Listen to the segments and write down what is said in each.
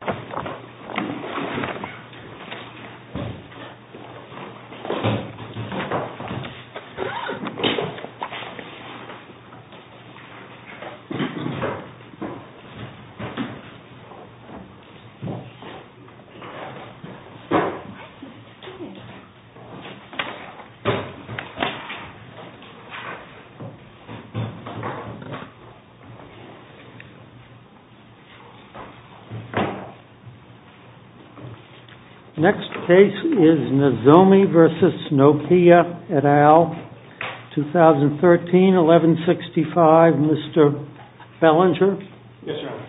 DUKE OF YORK Next case is Nozomi v. Nokia et al., 2013, 1165. Mr. Fellinger? Yes, Your Honor.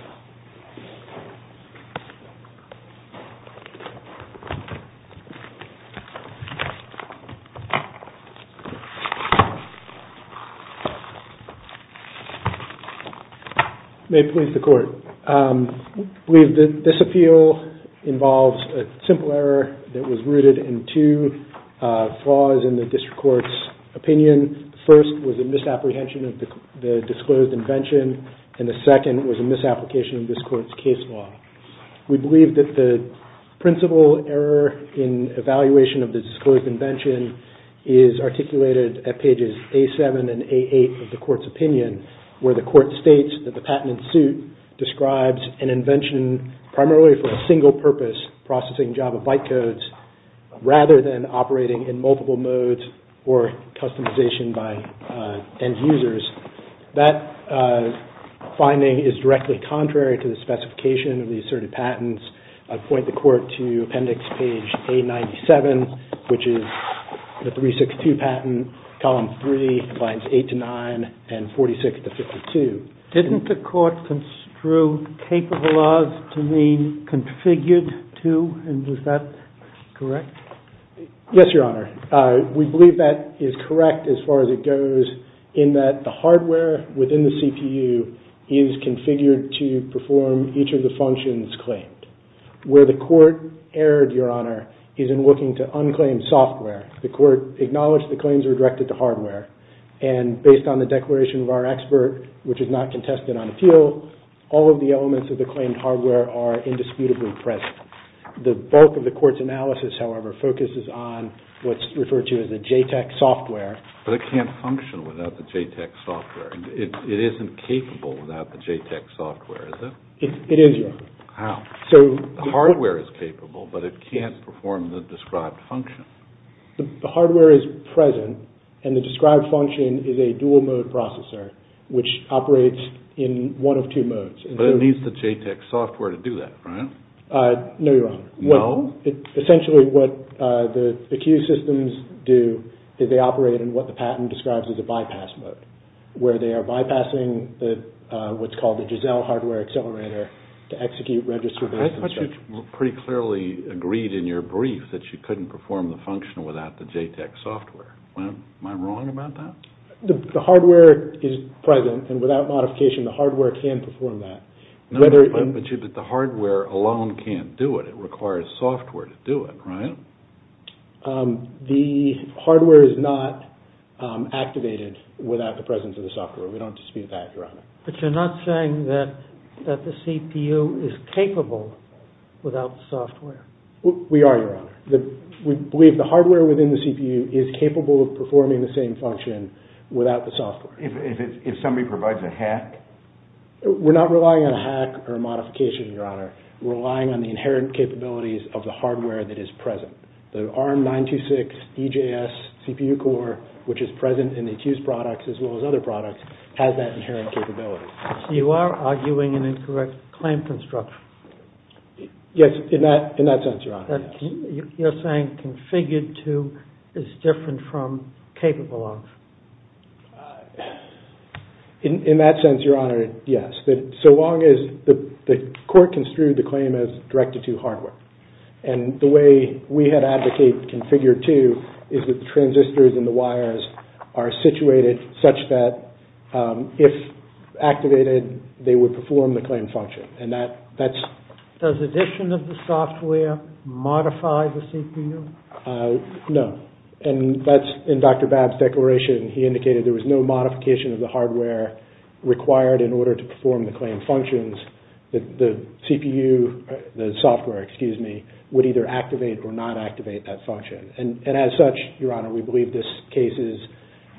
May it please the Court. I believe that this appeal involves a simple error that was rooted in two flaws in the District Court's opinion. The first was a misapprehension of the disclosed invention, and the second was a misapplication of this Court's case law. We believe that the principal error in evaluation of the disclosed invention is articulated at pages A7 and A8 of the Court's opinion, where the Court states that the patent in suit describes an invention primarily for a single purpose, processing Java byte codes, rather than operating in multiple modes or customization by end users. That finding is directly contrary to the specification of the asserted patents. I point the Court to appendix page A97, which is the 362 patent, column 3, lines 8 to 9, and 46 to 52. Didn't the Court construe capabilities to mean configured to, and is that correct? Yes, Your Honor. We believe that is correct as far as it goes in that the hardware within the CPU is configured to perform each of the functions claimed. Where the Court erred, Your Honor, is in looking to unclaimed software. The Court acknowledged the claims were directed to hardware, and based on the declaration of our expert, which is not contested on appeal, all of the elements of the claimed hardware are indisputably present. The bulk of the Court's analysis, however, focuses on what's referred to as the JTEC software. But it can't function without the JTEC software. It isn't capable without the JTEC software, is it? It is, Your Honor. How? The hardware is capable, but it can't perform the described function. The hardware is present, and the described function is a dual-mode processor, which operates in one of two modes. But it needs the JTEC software to do that, right? No, Your Honor. No? Essentially what the Q systems do is they operate in what the patent describes as a bypass mode, where they are bypassing what's called the Giselle hardware accelerator to execute register-based instruction. I thought you pretty clearly agreed in your brief that you couldn't perform the function without the JTEC software. Am I wrong about that? The hardware is present, and without modification, the hardware can perform that. But the hardware alone can't do it. It requires software to do it, right? The hardware is not activated without the presence of the software. We don't dispute that, Your Honor. But you're not saying that the CPU is capable without the software? We are, Your Honor. We believe the hardware within the CPU is capable of performing the same function without the software. If somebody provides a hack? We're not relying on a hack or a modification, Your Honor. We're relying on the inherent capabilities of the hardware that is present. The ARM 926 EJS CPU core, which is present in the Q's products as well as other products, has that inherent capability. So you are arguing an incorrect claim construction? Yes, in that sense, Your Honor. You're saying configured to is different from capable of? In that sense, Your Honor, yes. So long as the court construed the claim as directed to hardware. And the way we had advocated configured to is that the transistors and the wires are situated such that if activated, they would perform the claimed function. Does addition of the software modify the CPU? No. And that's in Dr. Babb's declaration. He indicated there was no modification of the hardware required in order to perform the claimed functions. The CPU, the software, excuse me, would either activate or not activate that function. And as such, Your Honor, we believe this case is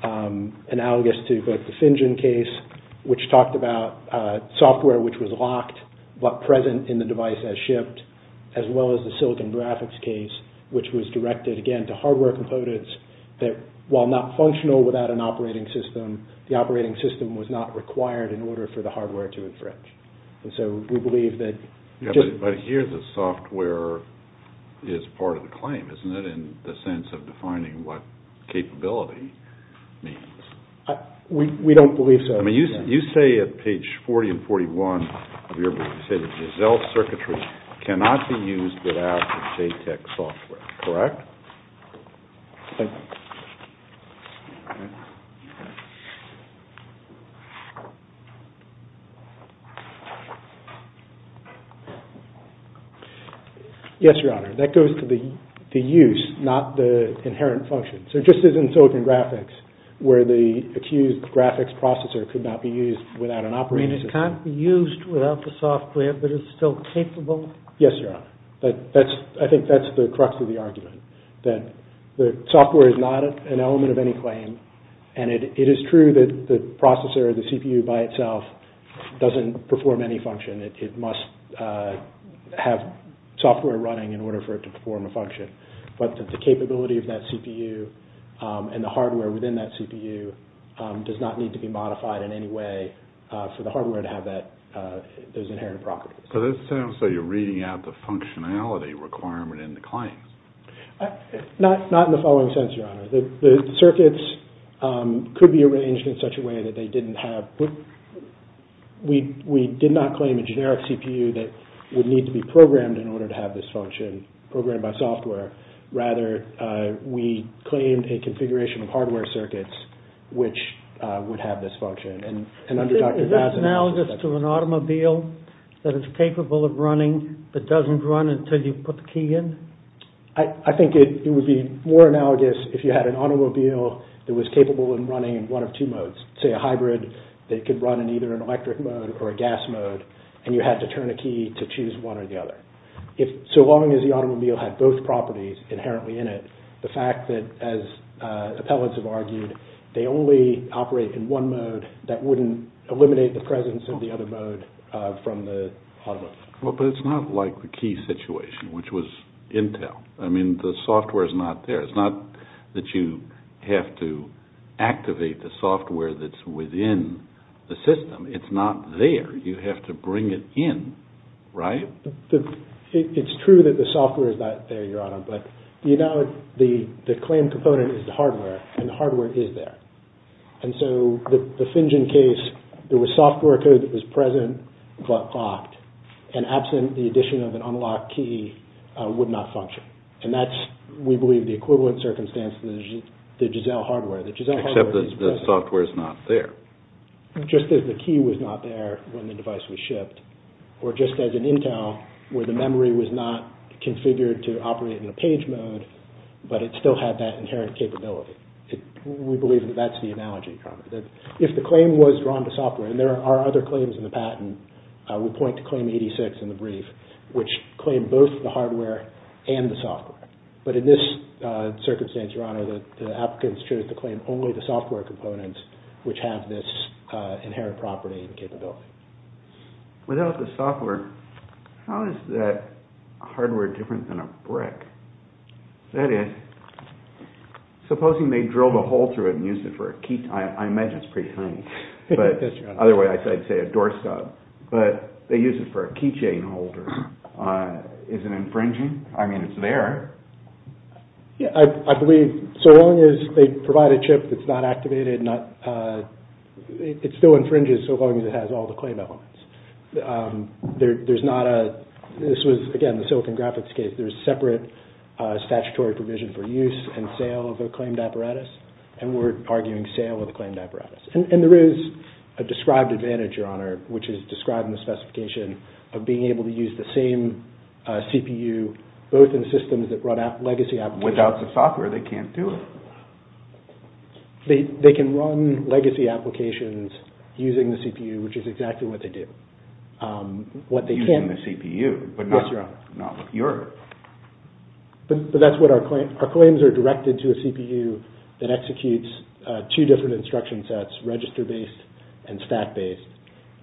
analogous to both the FinGen case, which talked about software which was locked but present in the device as shipped, as well as the Silicon Graphics case, which was directed, again, to hardware components that, while not functional without an operating system, the operating system was not required in order for the hardware to infringe. And so we believe that... But here the software is part of the claim, isn't it, in the sense of defining what capability means? We don't believe so. I mean, you say at page 40 and 41 of your book, you say that Giselle circuitry cannot be used without the JTEC software, correct? Thank you. Yes, Your Honor. That goes to the use, not the inherent function. So just as in Silicon Graphics, where the accused graphics processor could not be used without an operating system... I mean, it can't be used without the software, but it's still capable? Yes, Your Honor. I think that's the crux of the argument, that the software is not an element of any claim, and it is true that the processor, the CPU by itself, doesn't perform any function. It must have software running in order for it to perform a function. But the capability of that CPU and the hardware within that CPU does not need to be modified in any way for the hardware to have those inherent properties. So this sounds like you're reading out the functionality requirement in the claim. Not in the following sense, Your Honor. The circuits could be arranged in such a way that they didn't have... We did not claim a generic CPU that would need to be programmed in order to have this function, programmed by software. Rather, we claimed a configuration of hardware circuits, which would have this function. Is that analogous to an automobile that is capable of running, but doesn't run until you put the key in? I think it would be more analogous if you had an automobile that was capable of running in one of two modes. Say a hybrid that could run in either an electric mode or a gas mode, and you had to turn a key to choose one or the other. So long as the automobile had both properties inherently in it, the fact that, as appellants have argued, they only operate in one mode, that wouldn't eliminate the presence of the other mode from the automobile. Well, but it's not like the key situation, which was Intel. I mean, the software is not there. It's not that you have to activate the software that's within the system. It's not there. You have to bring it in, right? It's true that the software is not there, Your Honor, but you know the claim component is the hardware, and the hardware is there. And so the Fingen case, there was software code that was present but locked, and absent the addition of an unlocked key, would not function. And that's, we believe, the equivalent circumstance to the Giselle hardware. Except that the software is not there. Just as the key was not there when the device was shipped, or just as an Intel, where the memory was not configured to operate in a page mode, but it still had that inherent capability. We believe that that's the analogy, Your Honor. If the claim was drawn to software, and there are other claims in the patent, we point to claim 86 in the brief, which claimed both the hardware and the software. But in this circumstance, Your Honor, the applicants chose to claim only the software components, which have this inherent property and capability. Without the software, how is that hardware different than a brick? That is, supposing they drilled a hole through it and used it for a key, I imagine it's pretty tiny. But, otherwise I'd say a doorstop. But they use it for a keychain holder. Is it infringing? I mean, it's there. I believe, so long as they provide a chip that's not activated, it still infringes so long as it has all the claim elements. This was, again, the Silicon Graphics case. There's a separate statutory provision for use and sale of a claimed apparatus, and we're arguing sale of a claimed apparatus. And there is a described advantage, Your Honor, which is described in the specification of being able to use the same CPU, both in systems that run legacy applications. Without the software, they can't do it. They can run legacy applications using the CPU, which is exactly what they do. Using the CPU? Yes, Your Honor. But that's what our claims are directed to, a CPU that executes two different instruction sets, register-based and stack-based.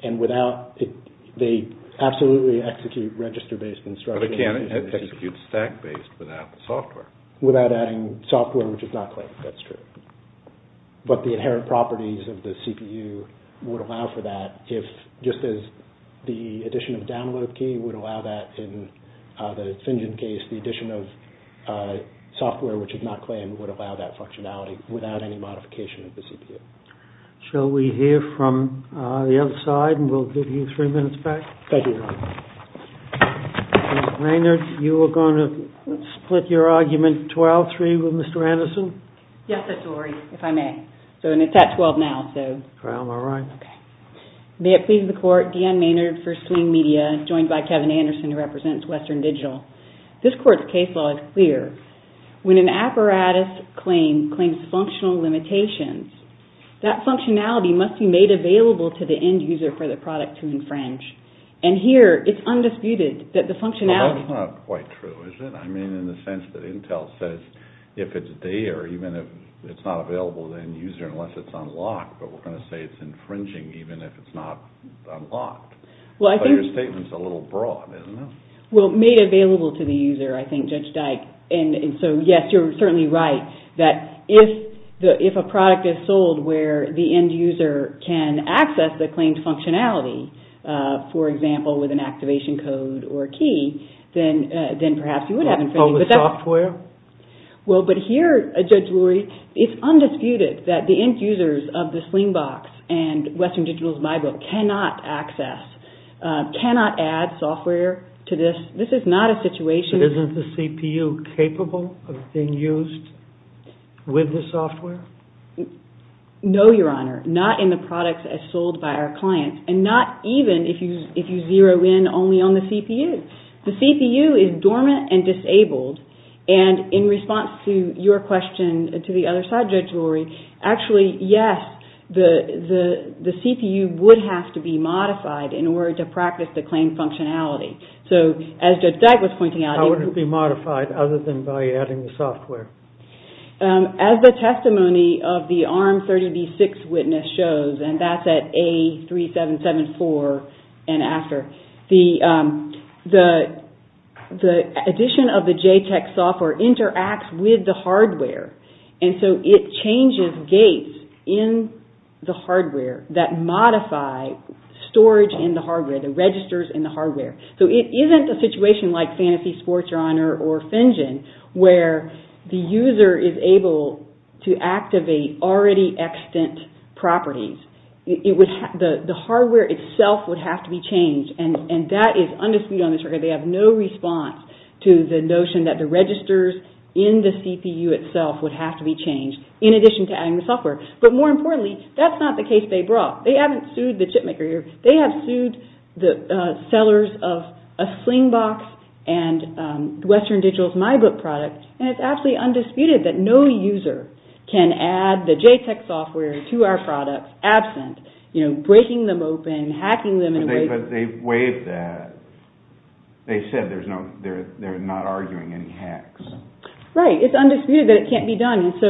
And without it, they absolutely execute register-based instruction. Without adding software, which is not claimed, that's true. But the inherent properties of the CPU would allow for that if, just as the addition of download key would allow that in the FinGen case, the addition of software, which is not claimed, would allow that functionality without any modification of the CPU. Shall we hear from the other side, and we'll give you three minutes back? Thank you, Your Honor. Ms. Maynard, you were going to split your argument 12-3 with Mr. Anderson? Yes, Mr. Lurie, if I may. And it's at 12 now. All right. May it please the Court, Deanne Maynard for Swing Media, joined by Kevin Anderson, who represents Western Digital. This Court's case law is clear. When an apparatus claim claims functional limitations, that functionality must be made available to the end user for the product to infringe. And here, it's undisputed that the functionality… Well, that's not quite true, is it? I mean, in the sense that Intel says if it's there, even if it's not available to the end user unless it's unlocked, but we're going to say it's infringing even if it's not unlocked. Well, I think… So your statement's a little broad, isn't it? Well, made available to the user, I think, Judge Dyke. And so, yes, you're certainly right that if a product is sold where the end user can access the claimed functionality, for example, with an activation code or a key, then perhaps you would have infringement. But with software? Well, but here, Judge Lurie, it's undisputed that the end users of the Slingbox and Western Digital's MyBook cannot access, cannot add software to this. This is not a situation… Isn't the CPU capable of being used with the software? No, Your Honor. Not in the products as sold by our clients. And not even if you zero in only on the CPU. The CPU is dormant and disabled. And in response to your question to the other side, Judge Lurie, actually, yes, the CPU would have to be modified in order to practice the claimed functionality. So, as Judge Dyke was pointing out… How would it be modified other than by adding the software? As the testimony of the ARM30v6 witness shows, and that's at A3774 and after, the addition of the JTEC software interacts with the hardware. And so it changes gates in the hardware that modify storage in the hardware, the registers in the hardware. So it isn't a situation like Fantasy, Sports, Your Honor, or Fingen where the user is able to activate already extant properties. The hardware itself would have to be changed. And that is undisputed on this record. They have no response to the notion that the registers in the CPU itself would have to be changed in addition to adding the software. But more importantly, that's not the case they brought. They haven't sued the chipmaker here. They have sued the sellers of a Slingbox and Western Digital's MyBook product. And it's absolutely undisputed that no user can add the JTEC software to our products absent, you know, breaking them open, hacking them… But they waived that. They said they're not arguing any hacks. Right. It's undisputed that it can't be done. And so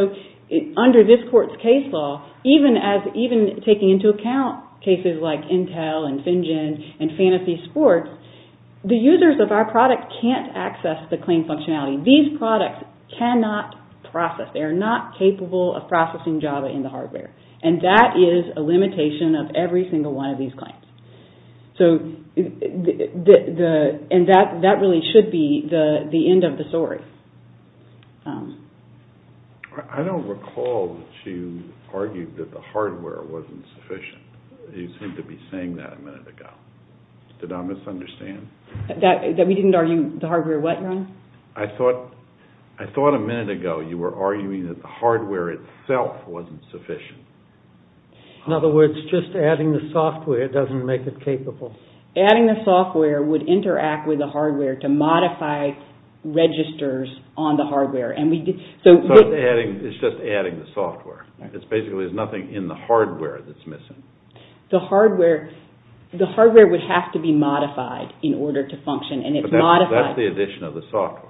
under this court's case law, even taking into account cases like Intel and Fingen and Fantasy, Sports, the users of our product can't access the claim functionality. These products cannot process. They are not capable of processing Java in the hardware. And that is a limitation of every single one of these claims. And that really should be the end of the story. I don't recall that you argued that the hardware wasn't sufficient. You seemed to be saying that a minute ago. Did I misunderstand? That we didn't argue the hardware what, Your Honor? I thought a minute ago you were arguing that the hardware itself wasn't sufficient. In other words, just adding the software doesn't make it capable. Adding the software would interact with the hardware to modify registers on the hardware. It's just adding the software. Basically, there's nothing in the hardware that's missing. The hardware would have to be modified in order to function. But that's the addition of the software.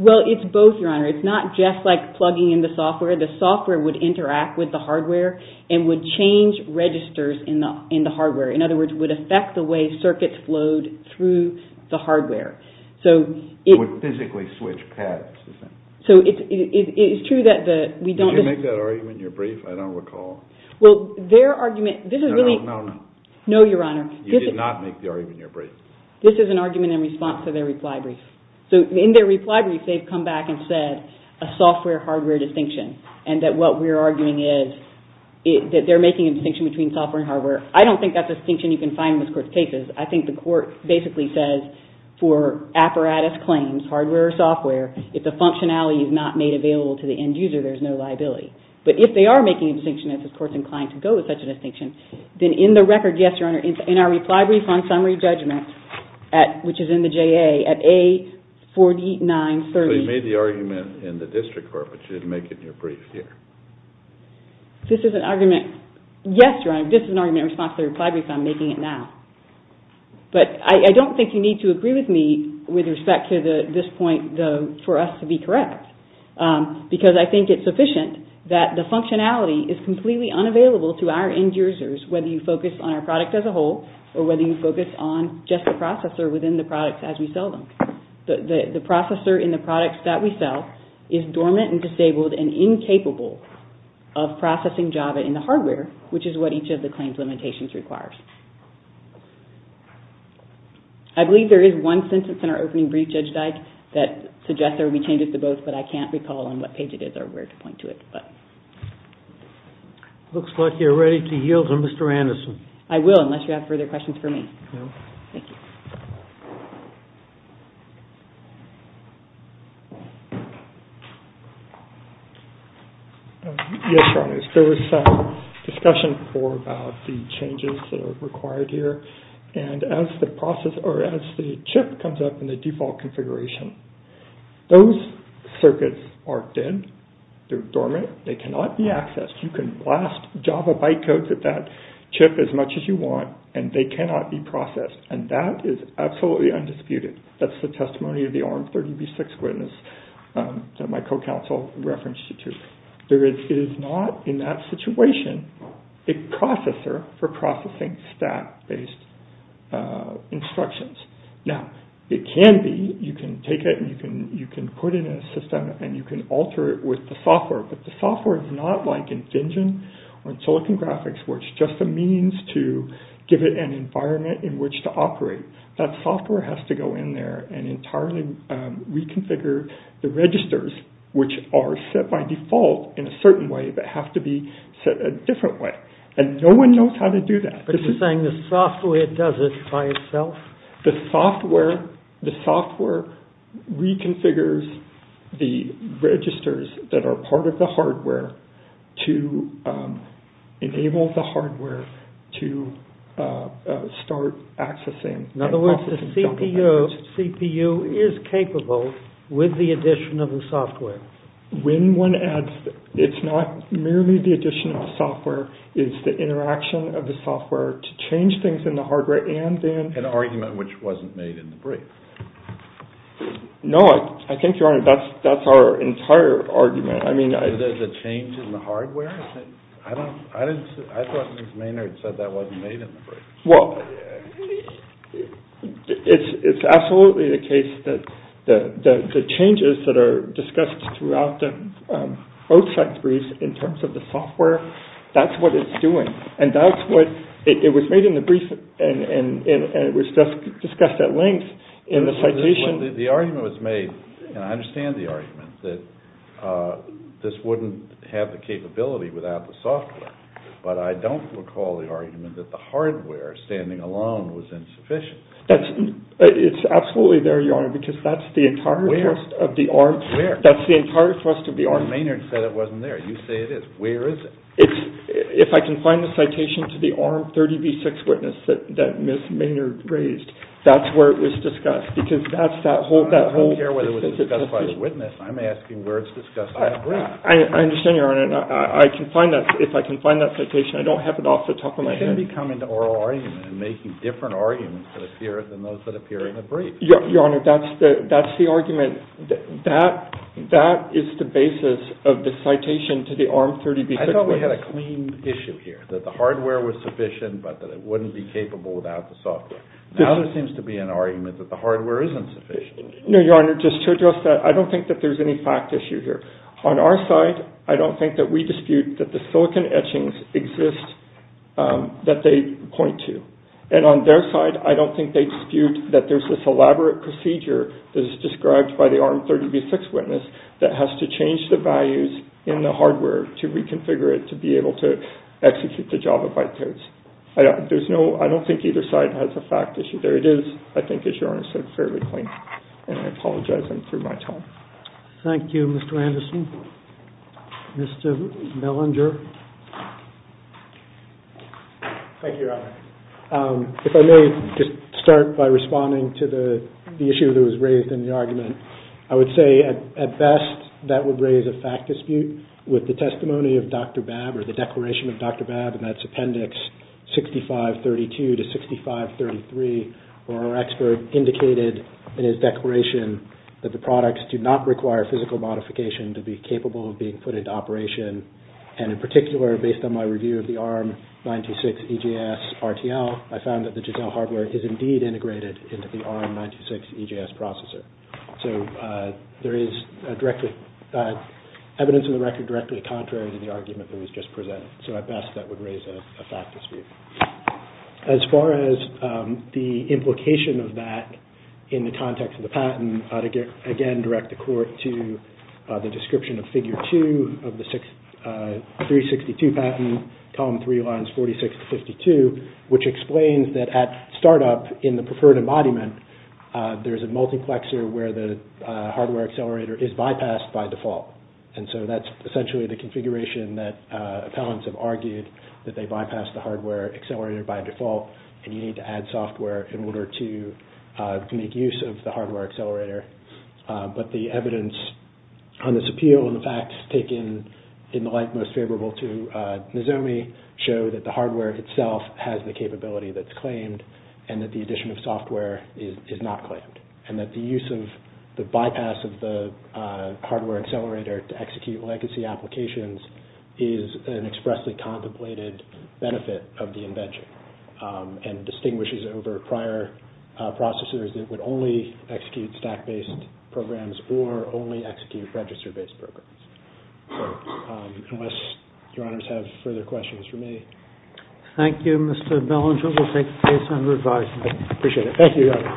Well, it's both, Your Honor. It's not just like plugging in the software. The software would interact with the hardware and would change registers in the hardware. In other words, it would affect the way circuits flowed through the hardware. It would physically switch paths. It's true that we don't... Did you make that argument in your brief? I don't recall. Well, their argument... No, Your Honor. You did not make the argument in your brief. This is an argument in response to their reply brief. In their reply brief, they've come back and said a software-hardware distinction and that what we're arguing is that they're making a distinction between software and hardware. I don't think that's a distinction you can find in this Court's cases. I think the Court basically says for apparatus claims, hardware or software, if the functionality is not made available to the end user, there's no liability. But if they are making a distinction, if this Court's inclined to go with such a distinction, then in the record, yes, Your Honor, in our reply brief on summary judgment, which is in the JA, at A4930... So you made the argument in the district court, but you didn't make it in your brief here. This is an argument... Yes, Your Honor, this is an argument in response to their reply brief. I'm making it now. But I don't think you need to agree with me with respect to this point for us to be correct because I think it's sufficient that the functionality is completely unavailable to our end users, whether you focus on our product as a whole, or whether you focus on just the processor within the products as we sell them. The processor in the products that we sell is dormant and disabled and incapable of processing JAVA in the hardware, which is what each of the claims limitations requires. I believe there is one sentence in our opening brief, Judge Dyke, that suggests there will be changes to both, but I can't recall on what page it is or where to point to it. Looks like you're ready to yield to Mr. Anderson. I will, unless you have further questions for me. No. Thank you. Yes, Your Honor, there was discussion before about the changes that are required here, and as the chip comes up in the default configuration, those circuits are dead. They're dormant. They cannot be accessed. You can blast JAVA bytecodes at that chip as much as you want, and they cannot be processed, and that is absolutely undisputed. That's the testimony of the ARM30B6 witness that my co-counsel referenced it to. It is not, in that situation, a processor for processing stat-based instructions. Now, it can be. You can take it, and you can put it in a system, and you can alter it with the software, but the software is not like in FinGen or in Silicon Graphics, where it's just a means to give it an environment in which to operate. That software has to go in there and entirely reconfigure the registers, which are set by default in a certain way, but have to be set a different way, and no one knows how to do that. But you're saying the software does it by itself? The software reconfigures the registers that are part of the hardware to enable the hardware to start accessing. In other words, the CPU is capable with the addition of the software. When one adds, it's not merely the addition of the software, it's the interaction of the software to change things in the hardware, an argument which wasn't made in the brief. No, I think, Your Honor, that's our entire argument. The change in the hardware? I thought Ms. Maynard said that wasn't made in the brief. Well, it's absolutely the case that the changes that are discussed throughout the OSAC brief in terms of the software, that's what it's doing. It was made in the brief and it was just discussed at length in the citation. The argument was made, and I understand the argument, that this wouldn't have the capability without the software, but I don't recall the argument that the hardware standing alone was insufficient. It's absolutely there, Your Honor, because that's the entire thrust of the arm. Where? That's the entire thrust of the arm. Ms. Maynard said it wasn't there. You say it is. Where is it? If I can find the citation to the arm 30B6 witness that Ms. Maynard raised, that's where it was discussed because that's that whole specificity. I don't care whether it was discussed by the witness. I'm asking where it's discussed in the brief. I understand, Your Honor, and I can find that. If I can find that citation, I don't have it off the top of my head. You shouldn't be coming to oral arguments and making different arguments than those that appear in the brief. Your Honor, that's the argument. That is the basis of the citation to the arm 30B6 witness. I thought we had a clean issue here, that the hardware was sufficient but that it wouldn't be capable without the software. Now there seems to be an argument that the hardware isn't sufficient. No, Your Honor, just to address that, I don't think that there's any fact issue here. On our side, I don't think that we dispute that the silicon etchings exist that they point to. And on their side, I don't think they dispute that there's this elaborate procedure that is described by the arm 30B6 witness that has to change the values in the hardware to reconfigure it to be able to execute the Java byte codes. I don't think either side has a fact issue. There it is, I think, as Your Honor said, fairly clean. And I apologize, I'm through my time. Thank you, Mr. Anderson. Mr. Mellinger. Thank you, Your Honor. If I may just start by responding to the issue that was raised in the argument. I would say, at best, that would raise a fact dispute with the testimony of Dr. Babb or the declaration of Dr. Babb, and that's Appendix 6532 to 6533, where our expert indicated in his declaration that the products do not require physical modification to be capable of being put into operation. And in particular, based on my review of the ARM 96 EGS RTL, I found that the Giselle hardware is indeed integrated into the ARM 96 EGS processor. So there is evidence in the record directly contrary to the argument that was just presented. So at best, that would raise a fact dispute. As far as the implication of that in the context of the patent, I would again direct the Court to the description of Figure 2 of the 362 patent, Column 3, Lines 46 to 52, which explains that at startup in the preferred embodiment, there is a multiplexer where the hardware accelerator is bypassed by default. And so that's essentially the configuration that appellants have argued, that they bypass the hardware accelerator by default, and you need to add software in order to make use of the hardware accelerator. But the evidence on this appeal and the facts taken in the light most favorable to Nizomi show that the hardware itself has the capability that's claimed, and that the addition of software is not claimed, and that the use of the bypass of the hardware accelerator to execute legacy applications is an expressly contemplated benefit of the invention and distinguishes over prior processors that would only execute stack-based programs or only execute register-based programs. So unless Your Honors have further questions for me. Thank you, Mr. Belanger. We'll take the case under advisement. I appreciate it. Thank you, Your Honor.